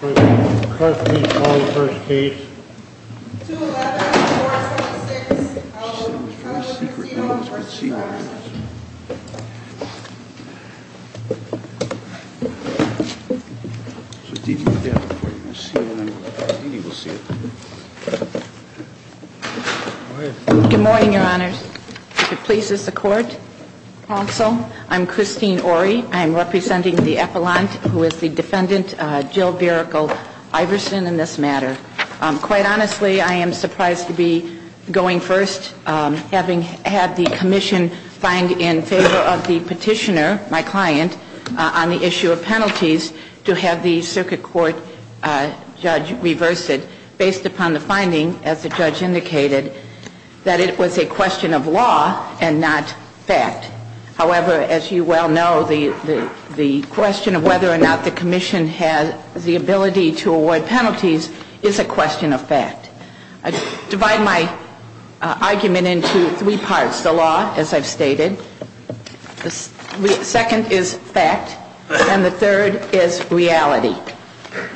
Good morning, your honors. If it pleases the court, also, I'm Christine Ory. I'm representing the Iverson in this matter. Quite honestly, I am surprised to be going first, having had the commission find in favor of the petitioner, my client, on the issue of penalties, to have the circuit court judge reverse it, based upon the finding, as the judge indicated, that it was a question of law and not fact. However, as you well know, the question of whether or not the commission had the ability to do so was a question of law, not fact. The ability to award penalties is a question of fact. I divide my argument into three parts. The law, as I've stated. The second is fact. And the third is reality.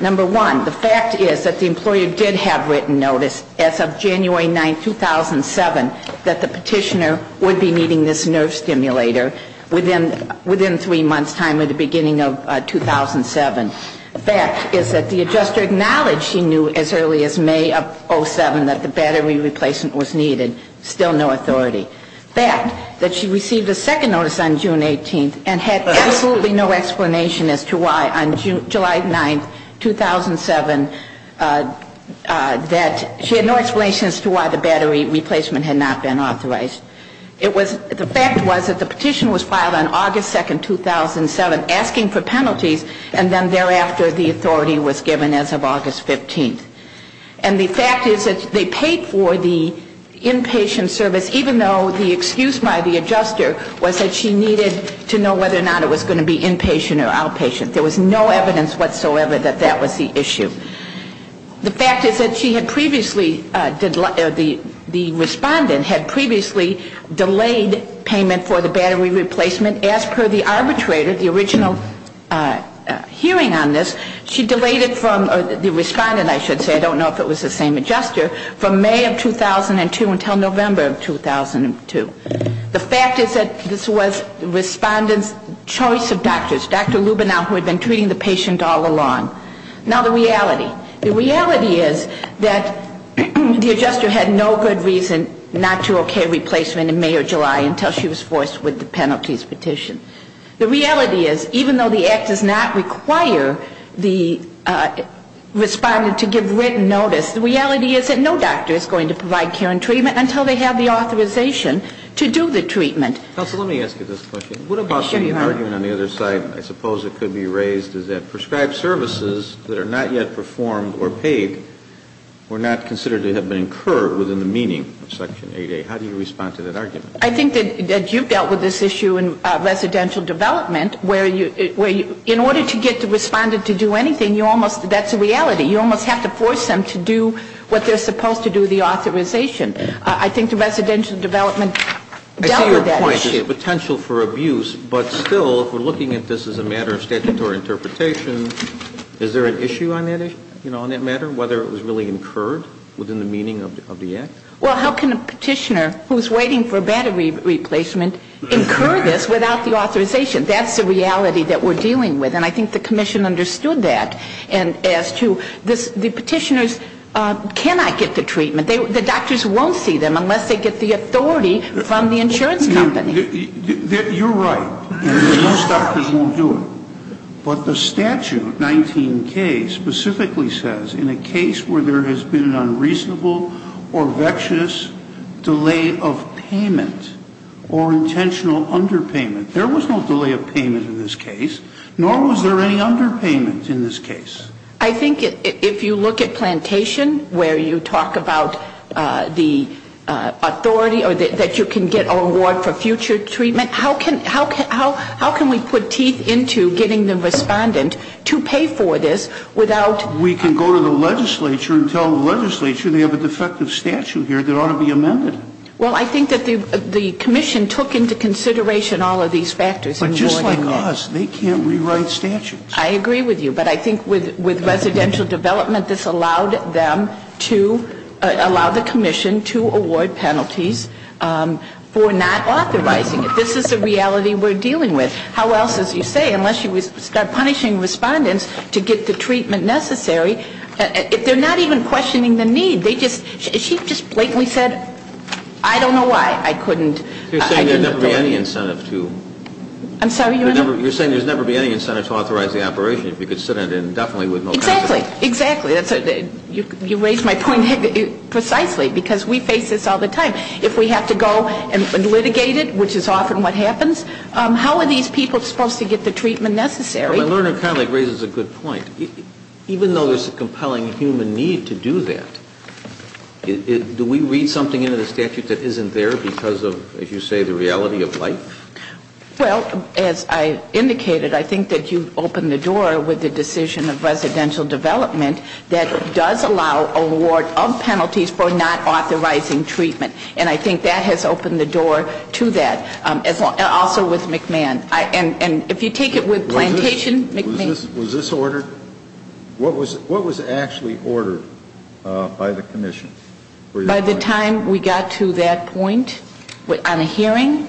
Number one, the fact is that the employer did have written notice as of January 9, 2007, that the petitioner would be meeting this nerve stimulator within three months' time at the beginning of 2007. The fact is that the adjuster acknowledged she knew as early as May of 2007 that the battery replacement was needed. Still no authority. Fact, that she received a second notice on June 18 and had absolutely no explanation as to why on July 9, 2007, that she had no explanation as to why the battery replacement had not been authorized. The fact was that the petition was filed on August 2, 2007, asking for penalties, and then thereafter the authority was given as of August 15. And the fact is that they paid for the inpatient service, even though the excuse by the adjuster was that she needed to know whether or not it was going to be inpatient or outpatient. There was no evidence whatsoever that that was the issue. The fact is that she had previously, the respondent had previously delayed payment for the battery replacement as per the arbitrator, the original hearing on this. She delayed it from, the respondent I should say, I don't know if it was the same adjuster, from May of 2002 until November of 2002. The fact is that this was the respondent's choice of doctors, Dr. Lubenow, who had been treating the patient all along. Now the reality, the reality is that the adjuster had no good reason not to okay replacement in May or July until she was forced with the penalties petition. The reality is, even though the Act does not require the respondent to give written notice, the reality is that no doctor is going to provide care and treatment until they have the authorization to do the treatment. Counsel, let me ask you this question. What about the argument on the other side, I suppose it could be raised, is that prescribed services that are not yet performed or paid were not considered to have been incurred within the meaning of Section 8A. How do you respond to that argument? I think that you've dealt with this issue in residential development, where in order to get the respondent to do anything, that's a reality. You almost have to force them to do what they're supposed to do, the authorization. I think the residential development dealt with that issue. I see your point, the potential for abuse, but still, if we're looking at this as a matter of statutory interpretation, is there an issue on that matter, whether it was really incurred within the meaning of the Act? Well, how can a petitioner who's waiting for battery replacement incur this without the authorization? That's the reality that we're dealing with, and I think the Commission understood that. And as to the petitioners cannot get the treatment, the doctors won't see them unless they get the authority from the insurance company. You're right. Most doctors won't do it. But the statute, 19K, specifically says, in a case where there has been an unreasonable or vexatious delay of payment or intentional underpayment, there was no delay of payment in this case, nor was there any underpayment in this case. I think if you look at plantation, where you talk about the authority, or that you can get a reward for future treatment, how can we put teeth into getting the respondent to pay for this without... We can go to the legislature and tell the legislature they have a defective statute here that ought to be amended. Well, I think that the Commission took into consideration all of these factors. But just like us, they can't rewrite statutes. I agree with you, but I think with residential development, this allowed them to allow the Commission to award penalties for not authorizing it. This is the reality we're dealing with. How else, as you say, unless you start punishing respondents to get the treatment necessary, if they're not even questioning the need, they just... She just blatantly said, I don't know why I couldn't... You're saying there'd never be any incentive to... I'm sorry, Your Honor? You're saying there'd never be any incentive to authorize the operation if you could sit on it indefinitely with no... Exactly, exactly. You raise my point precisely, because we face this all the time. If we have to go and litigate it, which is often what happens, how are these people supposed to get the treatment necessary? My learned colleague raises a good point. Even though there's a compelling human need to do that, do we read something into the statute that isn't there because of, as you say, the reality of life? Well, as I indicated, I think that you've opened the door with the decision of residential development that does allow award of penalties for not authorizing treatment. And I think that has opened the door to that. Also with McMahon. And if you take it with plantation... Was this ordered? What was actually ordered by the Commission? By the time we got to that point on the hearing,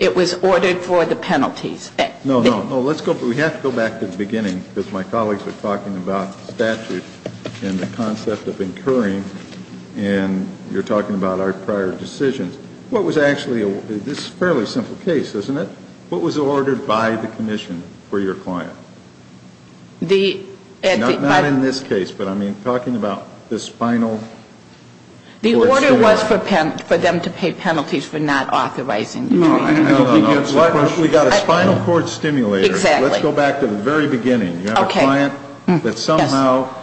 it was ordered for the penalties. No, no, no. Let's go... We have to go back to the beginning, because my colleagues are talking about statute and the concept of incurring, and you're talking about our prior decisions. What was actually... This is a fairly simple case, isn't it? What was ordered by the Commission for your client? The... The order was for them to pay penalties for not authorizing treatment. No, no, no. We got a spinal cord stimulator. Exactly. Let's go back to the very beginning. Okay. You have a client that somehow... Yes.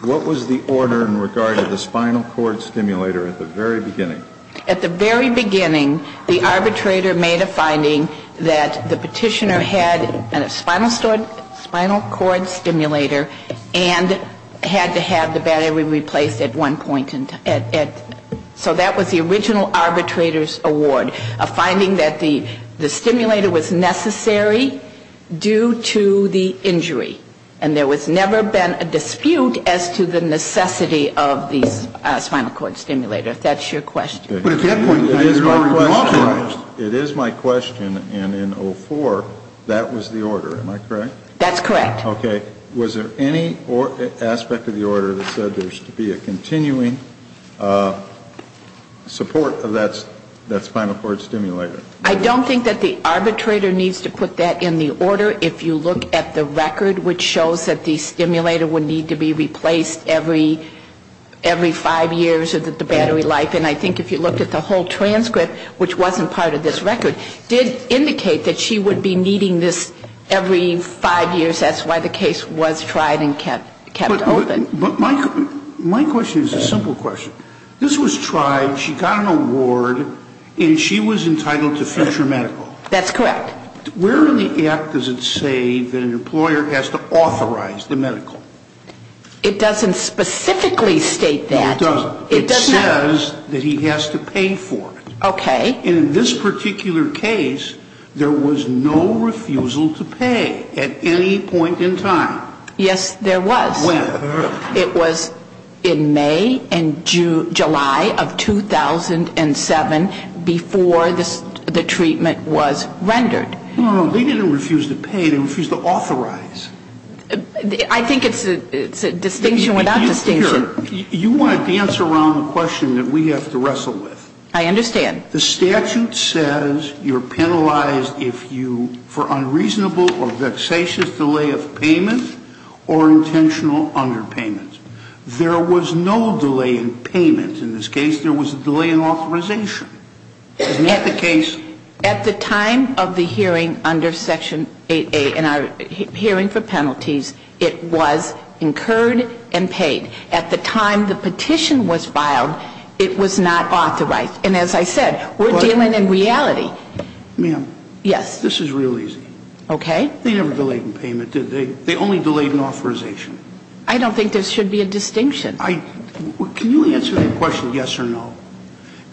What was the order in regard to the spinal cord stimulator at the very beginning? At the very beginning, the arbitrator made a finding that the petitioner had a spinal cord stimulator and had to have the battery replaced at one point in time. So that was the original arbitrator's award, a finding that the stimulator was necessary due to the injury. And there was never been a dispute as to the necessity of the spinal cord stimulator, if that's your question. But at that point, you were already authorized. It is my question, and in 04, that was the order. Am I correct? That's correct. Okay. Was there any aspect of the order that said there's to be a continuing support of that spinal cord stimulator? I don't think that the arbitrator needs to put that in the order. If you look at the record, which shows that the stimulator would need to be replaced every five years of the battery life, and I think if you look at the whole transcript, which wasn't part of this record, did indicate that she would be needing this every five years. That's why the case was tried and kept open. But my question is a simple question. This was tried, she got an award, and she was entitled to future medical. That's correct. Where in the act does it say that an employer has to authorize the medical? It doesn't specifically state that. No, it doesn't. It says that he has to pay for it. Okay. And in this particular case, there was no refusal to pay at any point in time. Yes, there was. When? It was in May and July of 2007, before the treatment was rendered. No, no, no. They didn't refuse to pay. They refused to authorize. I think it's a distinction without distinction. You want to dance around the question that we have to wrestle with. I understand. The statute says you're penalized for unreasonable or vexatious delay of payment or intentional underpayment. There was no delay in payment in this case. There was a delay in authorization. Isn't that the case? At the time of the hearing under Section 8A in our hearing for penalties, it was incurred and paid. At the time the petition was filed, it was not authorized. And as I said, we're dealing in reality. Ma'am. Yes. This is real easy. Okay. They never delayed in payment, did they? They only delayed in authorization. I don't think there should be a distinction. Can you answer the question yes or no?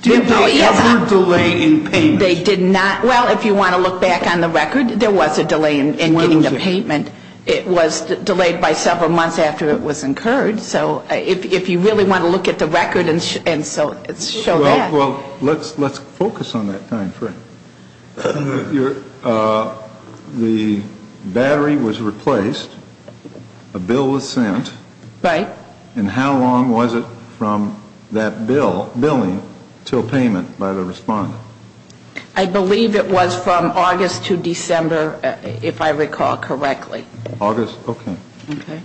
Did they ever delay in payment? They did not. Well, if you want to look back on the record, there was a delay in getting the payment. It was delayed by several months after it was incurred. So if you really want to look at the record and show that. Well, let's focus on that time frame. The battery was replaced. A bill was sent. Right. And how long was it from that billing to a payment by the respondent? I believe it was from August to December, if I recall correctly. August, okay. Okay.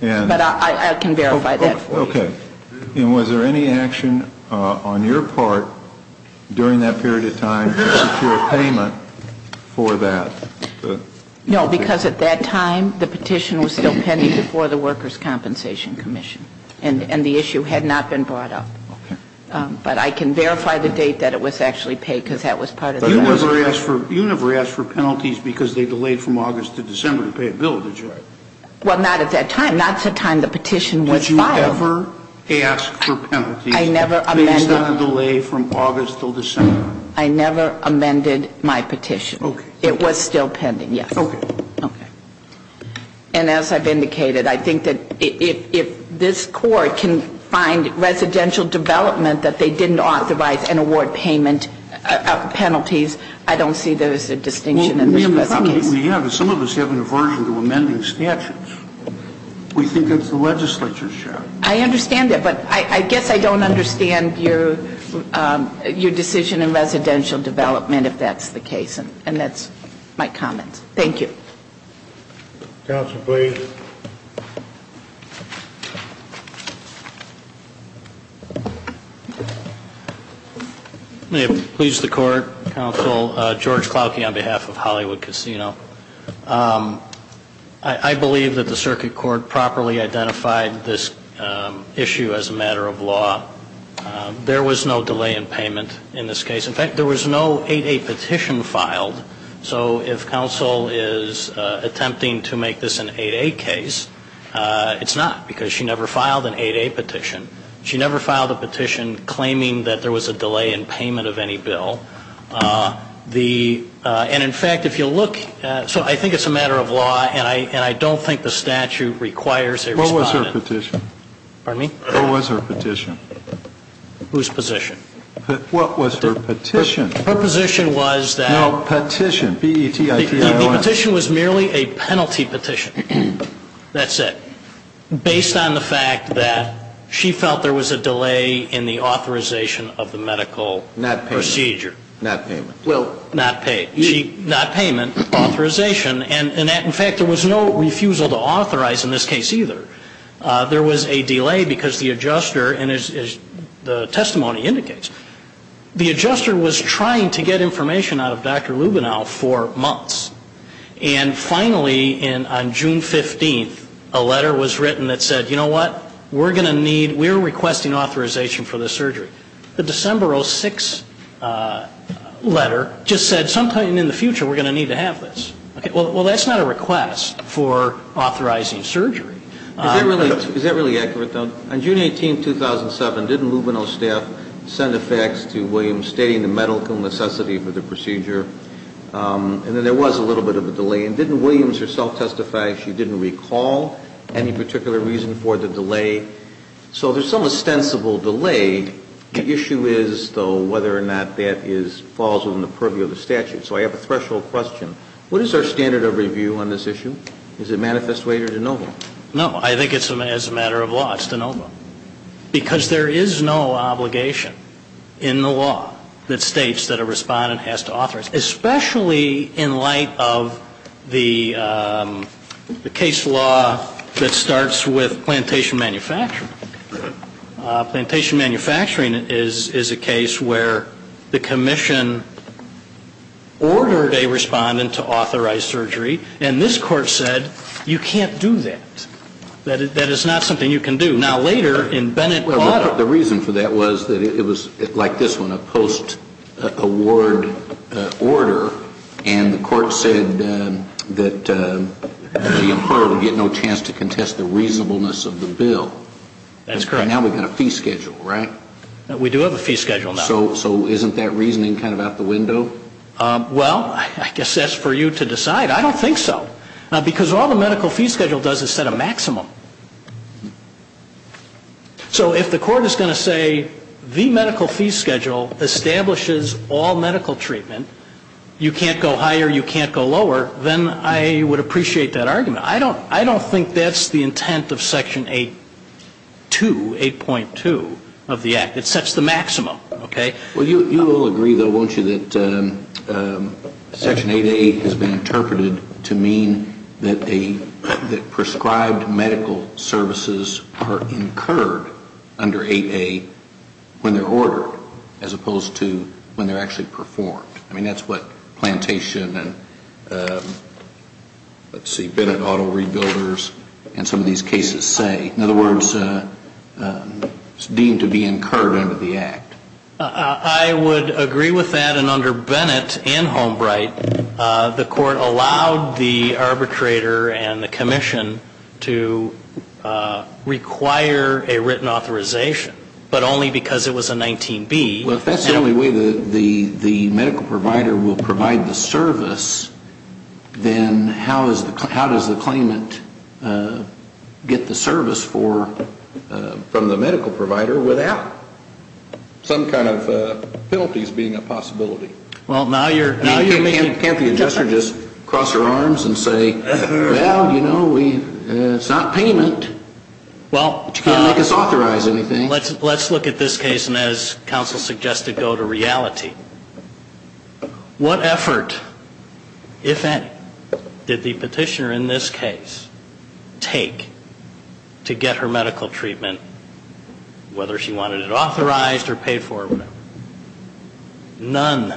But I can verify that for you. Okay. And was there any action on your part during that period of time to secure payment for that? No, because at that time the petition was still pending before the Workers' Compensation Commission. And the issue had not been brought up. Okay. But I can verify the date that it was actually paid because that was part of the record. You never asked for penalties because they delayed from August to December to pay a bill, did you? Well, not at that time. Not at the time the petition was filed. Did you ever ask for penalties based on a delay from August to December? I never amended my petition. Okay. It was still pending, yes. Okay. Okay. And as I've indicated, I think that if this court can find residential development that they didn't authorize and award payment penalties, I don't see there's a distinction in this case. Well, we have a problem. Some of us have an aversion to amending statutes. We think it's the legislature's job. I understand that. But I guess I don't understand your decision in residential development if that's the case. And that's my comment. Thank you. Counsel, please. May it please the Court. Counsel, George Clawkey on behalf of Hollywood Casino. I believe that the circuit court properly identified this issue as a matter of law. There was no delay in payment in this case. In fact, there was no 8A petition filed. So if counsel is attempting to make this an 8A case, it's not because she never filed an 8A petition. She never filed a petition claiming that there was a delay in payment of any bill. And, in fact, if you look at so I think it's a matter of law and I don't think the statute requires a respondent. What was her petition? Pardon me? What was her petition? Whose position? What was her petition? Her position was that. No, petition, P-E-T-I-T-I-O-N. The petition was merely a penalty petition. That's it. Based on the fact that she felt there was a delay in the authorization of the medical procedure. Not payment. Not payment. Well, not payment, authorization. And, in fact, there was no refusal to authorize in this case either. There was a delay because the adjuster, and as the testimony indicates, the adjuster was trying to get information out of Dr. Lubenow for months. And, finally, on June 15th, a letter was written that said, you know what, we're going to need, we're requesting authorization for this surgery. The December 06 letter just said sometime in the future we're going to need to have this. Well, that's not a request for authorizing surgery. Is that really accurate, though? On June 18th, 2007, didn't Lubenow's staff send a fax to Williams stating the medical necessity for the procedure? And then there was a little bit of a delay. And didn't Williams herself testify she didn't recall any particular reason for the delay? So there's some ostensible delay. The issue is, though, whether or not that falls within the purview of the statute. So I have a threshold question. What is our standard of review on this issue? Is it manifest way or de novo? No, I think it's as a matter of law, it's de novo. Because there is no obligation in the law that states that a respondent has to authorize. Especially in light of the case law that starts with plantation manufacturing. Plantation manufacturing is a case where the commission ordered a respondent to authorize surgery. And this court said, you can't do that. That is not something you can do. Now, later in Bennett auto. The reason for that was that it was like this one, a post-award order. And the court said that the employer would get no chance to contest the reasonableness of the bill. That's correct. And now we've got a fee schedule, right? We do have a fee schedule now. So isn't that reasoning kind of out the window? Well, I guess that's for you to decide. I don't think so. Because all the medical fee schedule does is set a maximum. So if the court is going to say the medical fee schedule establishes all medical treatment, you can't go higher, you can't go lower, then I would appreciate that argument. I don't think that's the intent of Section 8.2 of the Act. It sets the maximum, okay? Well, you will agree, though, won't you, that Section 8A has been interpreted to mean that prescribed medical services are incurred under 8A when they're ordered as opposed to when they're actually performed. I mean, that's what Plantation and, let's see, Bennett Auto Rebuilders and some of these cases say. In other words, it's deemed to be incurred under the Act. I would agree with that. And under Bennett and Holmbright, the court allowed the arbitrator and the commission to require a written authorization, but only because it was a 19B. Well, if that's the only way the medical provider will provide the service, then how does the claimant get the service from the medical provider without some kind of penalties being a possibility? Well, now you're making... Can't the adjuster just cross her arms and say, well, you know, it's not payment, but you can't make us authorize anything. Well, let's look at this case and, as counsel suggested, go to reality. What effort, if any, did the petitioner in this case take to get her medical treatment, whether she wanted it authorized or paid for or whatever? None.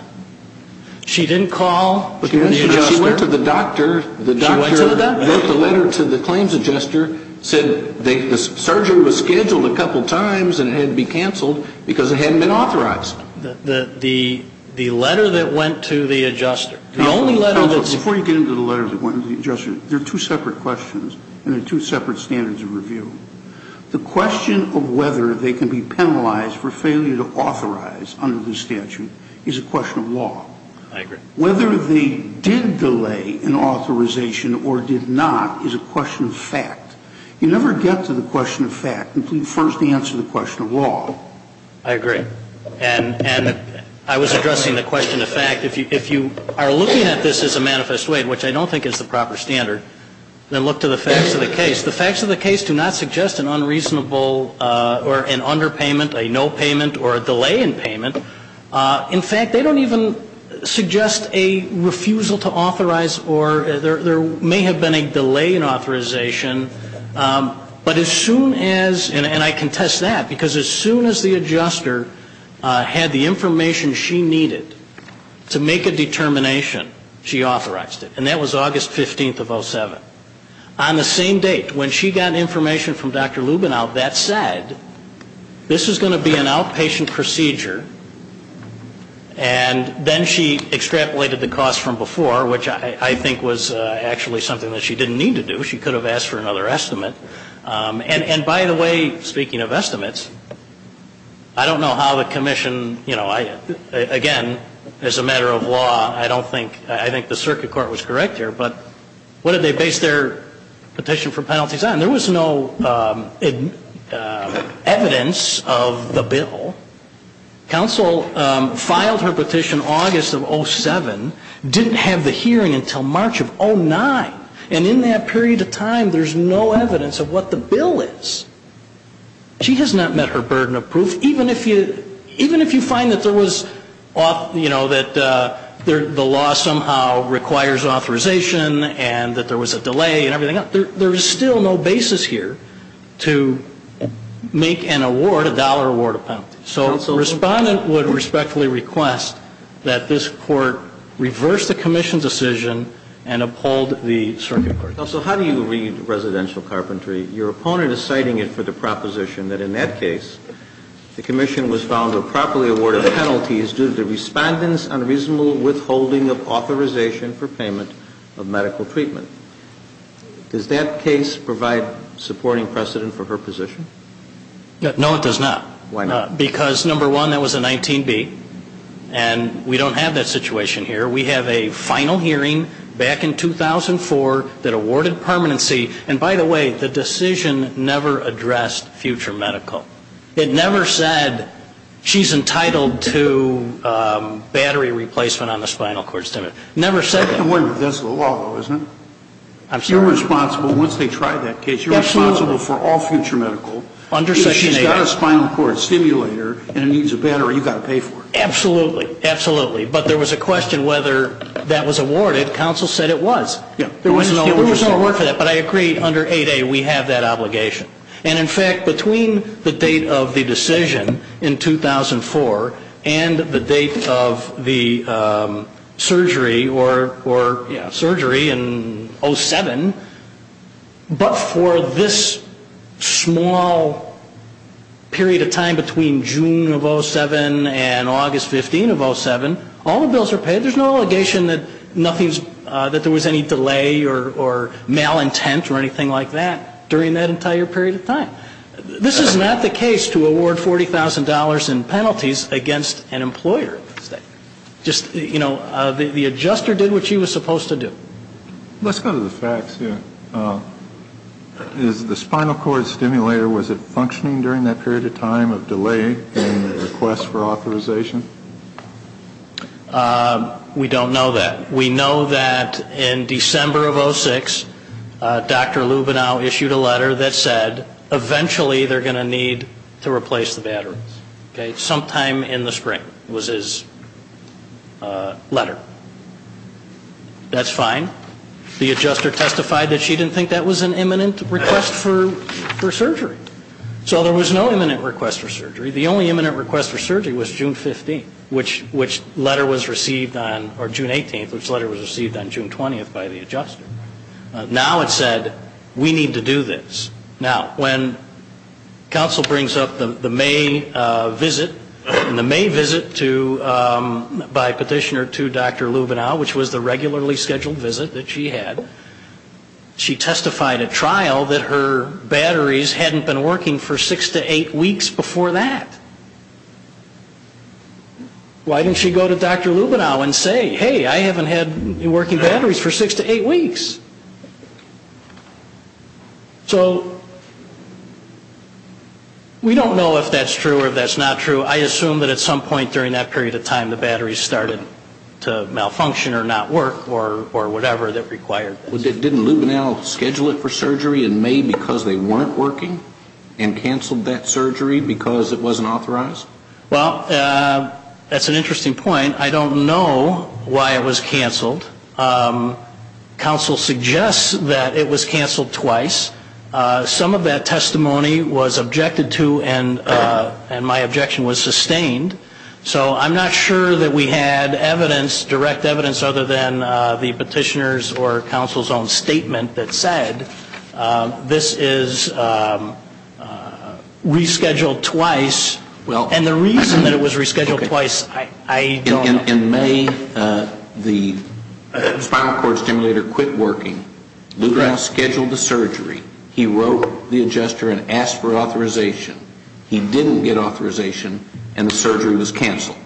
She didn't call the adjuster. She went to the doctor. She went to the doctor. She wrote the letter to the claims adjuster, said the surgery was scheduled a couple times and it had to be canceled because it hadn't been authorized. The letter that went to the adjuster, the only letter that... Counsel, before you get into the letter that went to the adjuster, there are two separate questions and there are two separate standards of review. The question of whether they can be penalized for failure to authorize under the statute is a question of law. I agree. Whether they did delay an authorization or did not is a question of fact. You never get to the question of fact until you first answer the question of law. I agree. And I was addressing the question of fact. If you are looking at this as a manifest way, which I don't think is the proper standard, then look to the facts of the case. The facts of the case do not suggest an unreasonable or an underpayment, a no payment, or a delay in payment. In fact, they don't even suggest a refusal to authorize or there may have been a delay in authorization. But as soon as, and I contest that, because as soon as the adjuster had the information she needed to make a determination, she authorized it. And that was August 15th of 07. On the same date, when she got information from Dr. Lubenow, that said, this is going to be an outpatient procedure. And then she extrapolated the cost from before, which I think was actually something that she didn't need to do. She could have asked for another estimate. And, by the way, speaking of estimates, I don't know how the commission, you know, again, as a matter of law, I don't think, I think the circuit court was correct here, but what did they base their petition for penalties on? There was no evidence of the bill. Counsel filed her petition August of 07, didn't have the hearing until March of 09. And in that period of time, there's no evidence of what the bill is. She has not met her burden of proof. Even if you find that there was, you know, that the law somehow requires authorization and that there was a delay and everything else, there is still no basis here to make an award, a dollar award, a penalty. So the Respondent would respectfully request that this Court reverse the commission's decision and uphold the circuit court. So how do you read residential carpentry? Your opponent is citing it for the proposition that in that case, the commission was found to have properly awarded penalties due to the Respondent's unreasonable withholding of authorization for payment of medical treatment. Does that case provide supporting precedent for her position? No, it does not. Why not? Because, number one, that was a 19B. And we don't have that situation here. We have a final hearing back in 2004 that awarded permanency. And, by the way, the decision never addressed future medical. It never said she's entitled to battery replacement on the spinal cord stimulus. It never said that. I'm wondering if that's the law, though, isn't it? I'm sorry? You're responsible, once they try that case, you're responsible for all future medical. Under Section 8A. If she's got a spinal cord stimulator and it needs a battery, you've got to pay for it. Absolutely. Absolutely. But there was a question whether that was awarded. Counsel said it was. Yeah. There was no award for that. But I agree, under 8A, we have that obligation. And, in fact, between the date of the decision in 2004 and the date of the surgery or surgery in 07, but for this small period of time between June of 07 and August 15 of 07, all the bills are paid. There's no allegation that there was any delay or malintent or anything like that during that entire period of time. This is not the case to award $40,000 in penalties against an employer. Just, you know, the adjuster did what she was supposed to do. Let's go to the facts here. Is the spinal cord stimulator, was it functioning during that period of time of delay in the request for authorization? We don't know that. We know that in December of 06, Dr. Lubenow issued a letter that said eventually they're going to need to replace the battery. Okay. Sometime in the spring was his letter. That's fine. The adjuster testified that she didn't think that was an imminent request for surgery. So there was no imminent request for surgery. The only imminent request for surgery was June 15, which letter was received on or June 18, which letter was received on June 20 by the adjuster. Now it said we need to do this. Now, when counsel brings up the May visit to, by petitioner to Dr. Lubenow, which was the regularly scheduled visit that she had, she testified at trial that her batteries hadn't been working for six to eight weeks before that. Why didn't she go to Dr. Lubenow and say, hey, I haven't had working batteries for six to eight weeks? So we don't know if that's true or if that's not true. I assume that at some point during that period of time the batteries started to malfunction or not work or whatever that required this. Didn't Lubenow schedule it for surgery in May because they weren't working and canceled that surgery because it wasn't authorized? Well, that's an interesting point. I don't know why it was canceled. Counsel suggests that it was canceled twice. Some of that testimony was objected to, and my objection was sustained. So I'm not sure that we had evidence, direct evidence, other than the petitioner's or counsel's own statement that said this is rescheduled twice. And the reason that it was rescheduled twice, I don't know. In May, the spinal cord stimulator quit working. Lubenow scheduled the surgery. He didn't get authorization, and the surgery was canceled.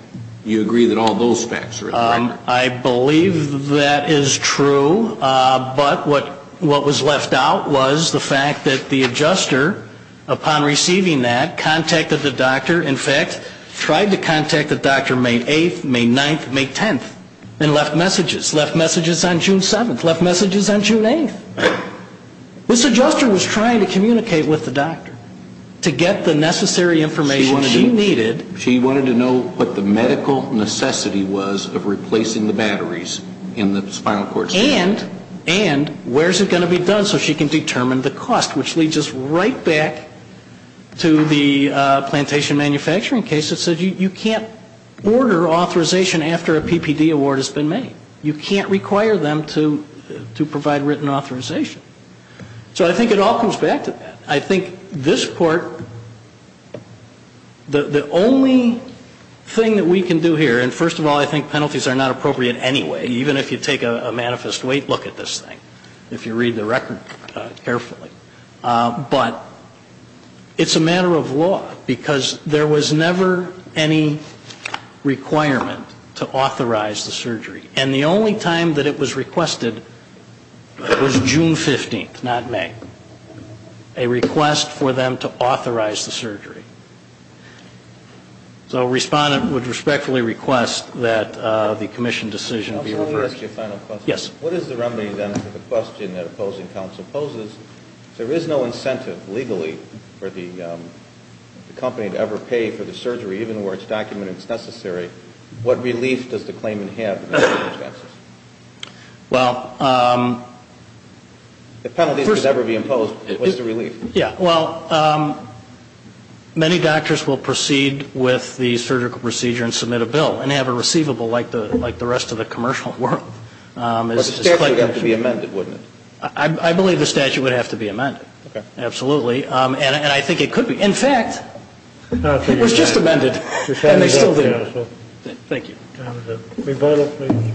Do you agree that all those facts are incorrect? I believe that is true. But what was left out was the fact that the adjuster, upon receiving that, contacted the doctor, in fact, tried to contact the doctor May 8th, May 9th, May 10th, and left messages, left messages on June 7th, left messages on June 8th. This adjuster was trying to communicate with the doctor to get the necessary information she needed. She wanted to know what the medical necessity was of replacing the batteries in the spinal cord stimulator. And where is it going to be done so she can determine the cost, which leads us right back to the plantation manufacturing case that said you can't order authorization after a PPD award has been made. You can't require them to provide written authorization. So I think it all comes back to that. I think this part, the only thing that we can do here, and first of all, I think penalties are not appropriate anyway, even if you take a manifest weight look at this thing, if you read the record carefully. But it's a matter of law, because there was never any requirement to authorize the surgery. And the only time that it was requested was June 15th, not May. A request for them to authorize the surgery. So a respondent would respectfully request that the commission decision be reversed. Can I ask you a final question? Yes. What is the remedy, then, to the question that opposing counsel poses? If there is no incentive legally for the company to ever pay for the surgery, even where it's documented it's necessary, what relief does the claimant have in those circumstances? Well... Yeah, well, many doctors will proceed with the surgical procedure and submit a bill and have a receivable like the rest of the commercial world. But the statute would have to be amended, wouldn't it? I believe the statute would have to be amended. Okay. Absolutely. And I think it could be. In fact, it was just amended, and they still do. Thank you. May I have the rebuttal, please?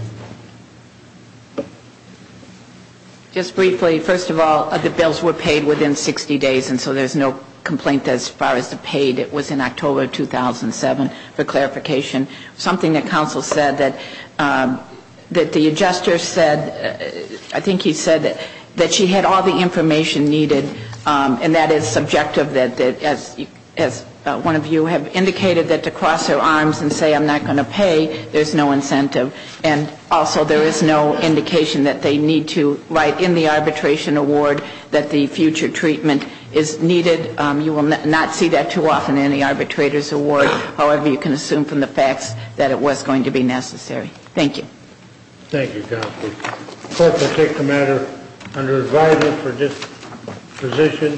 Just briefly, first of all, the bills were paid within 60 days, and so there's no complaint as far as the paid. It was in October of 2007, for clarification. Something that counsel said that the adjuster said, I think he said that she had all the information needed, and that is subjective, as one of you have indicated, that to cross her arms and say I'm not going to pay, there's no incentive. And also, there is no indication that they need to write in the arbitration award that the future treatment is needed. You will not see that too often in the arbitrator's award. However, you can assume from the facts that it was going to be necessary. Thank you. Thank you, counsel. The court will take the matter under advisement for disposition.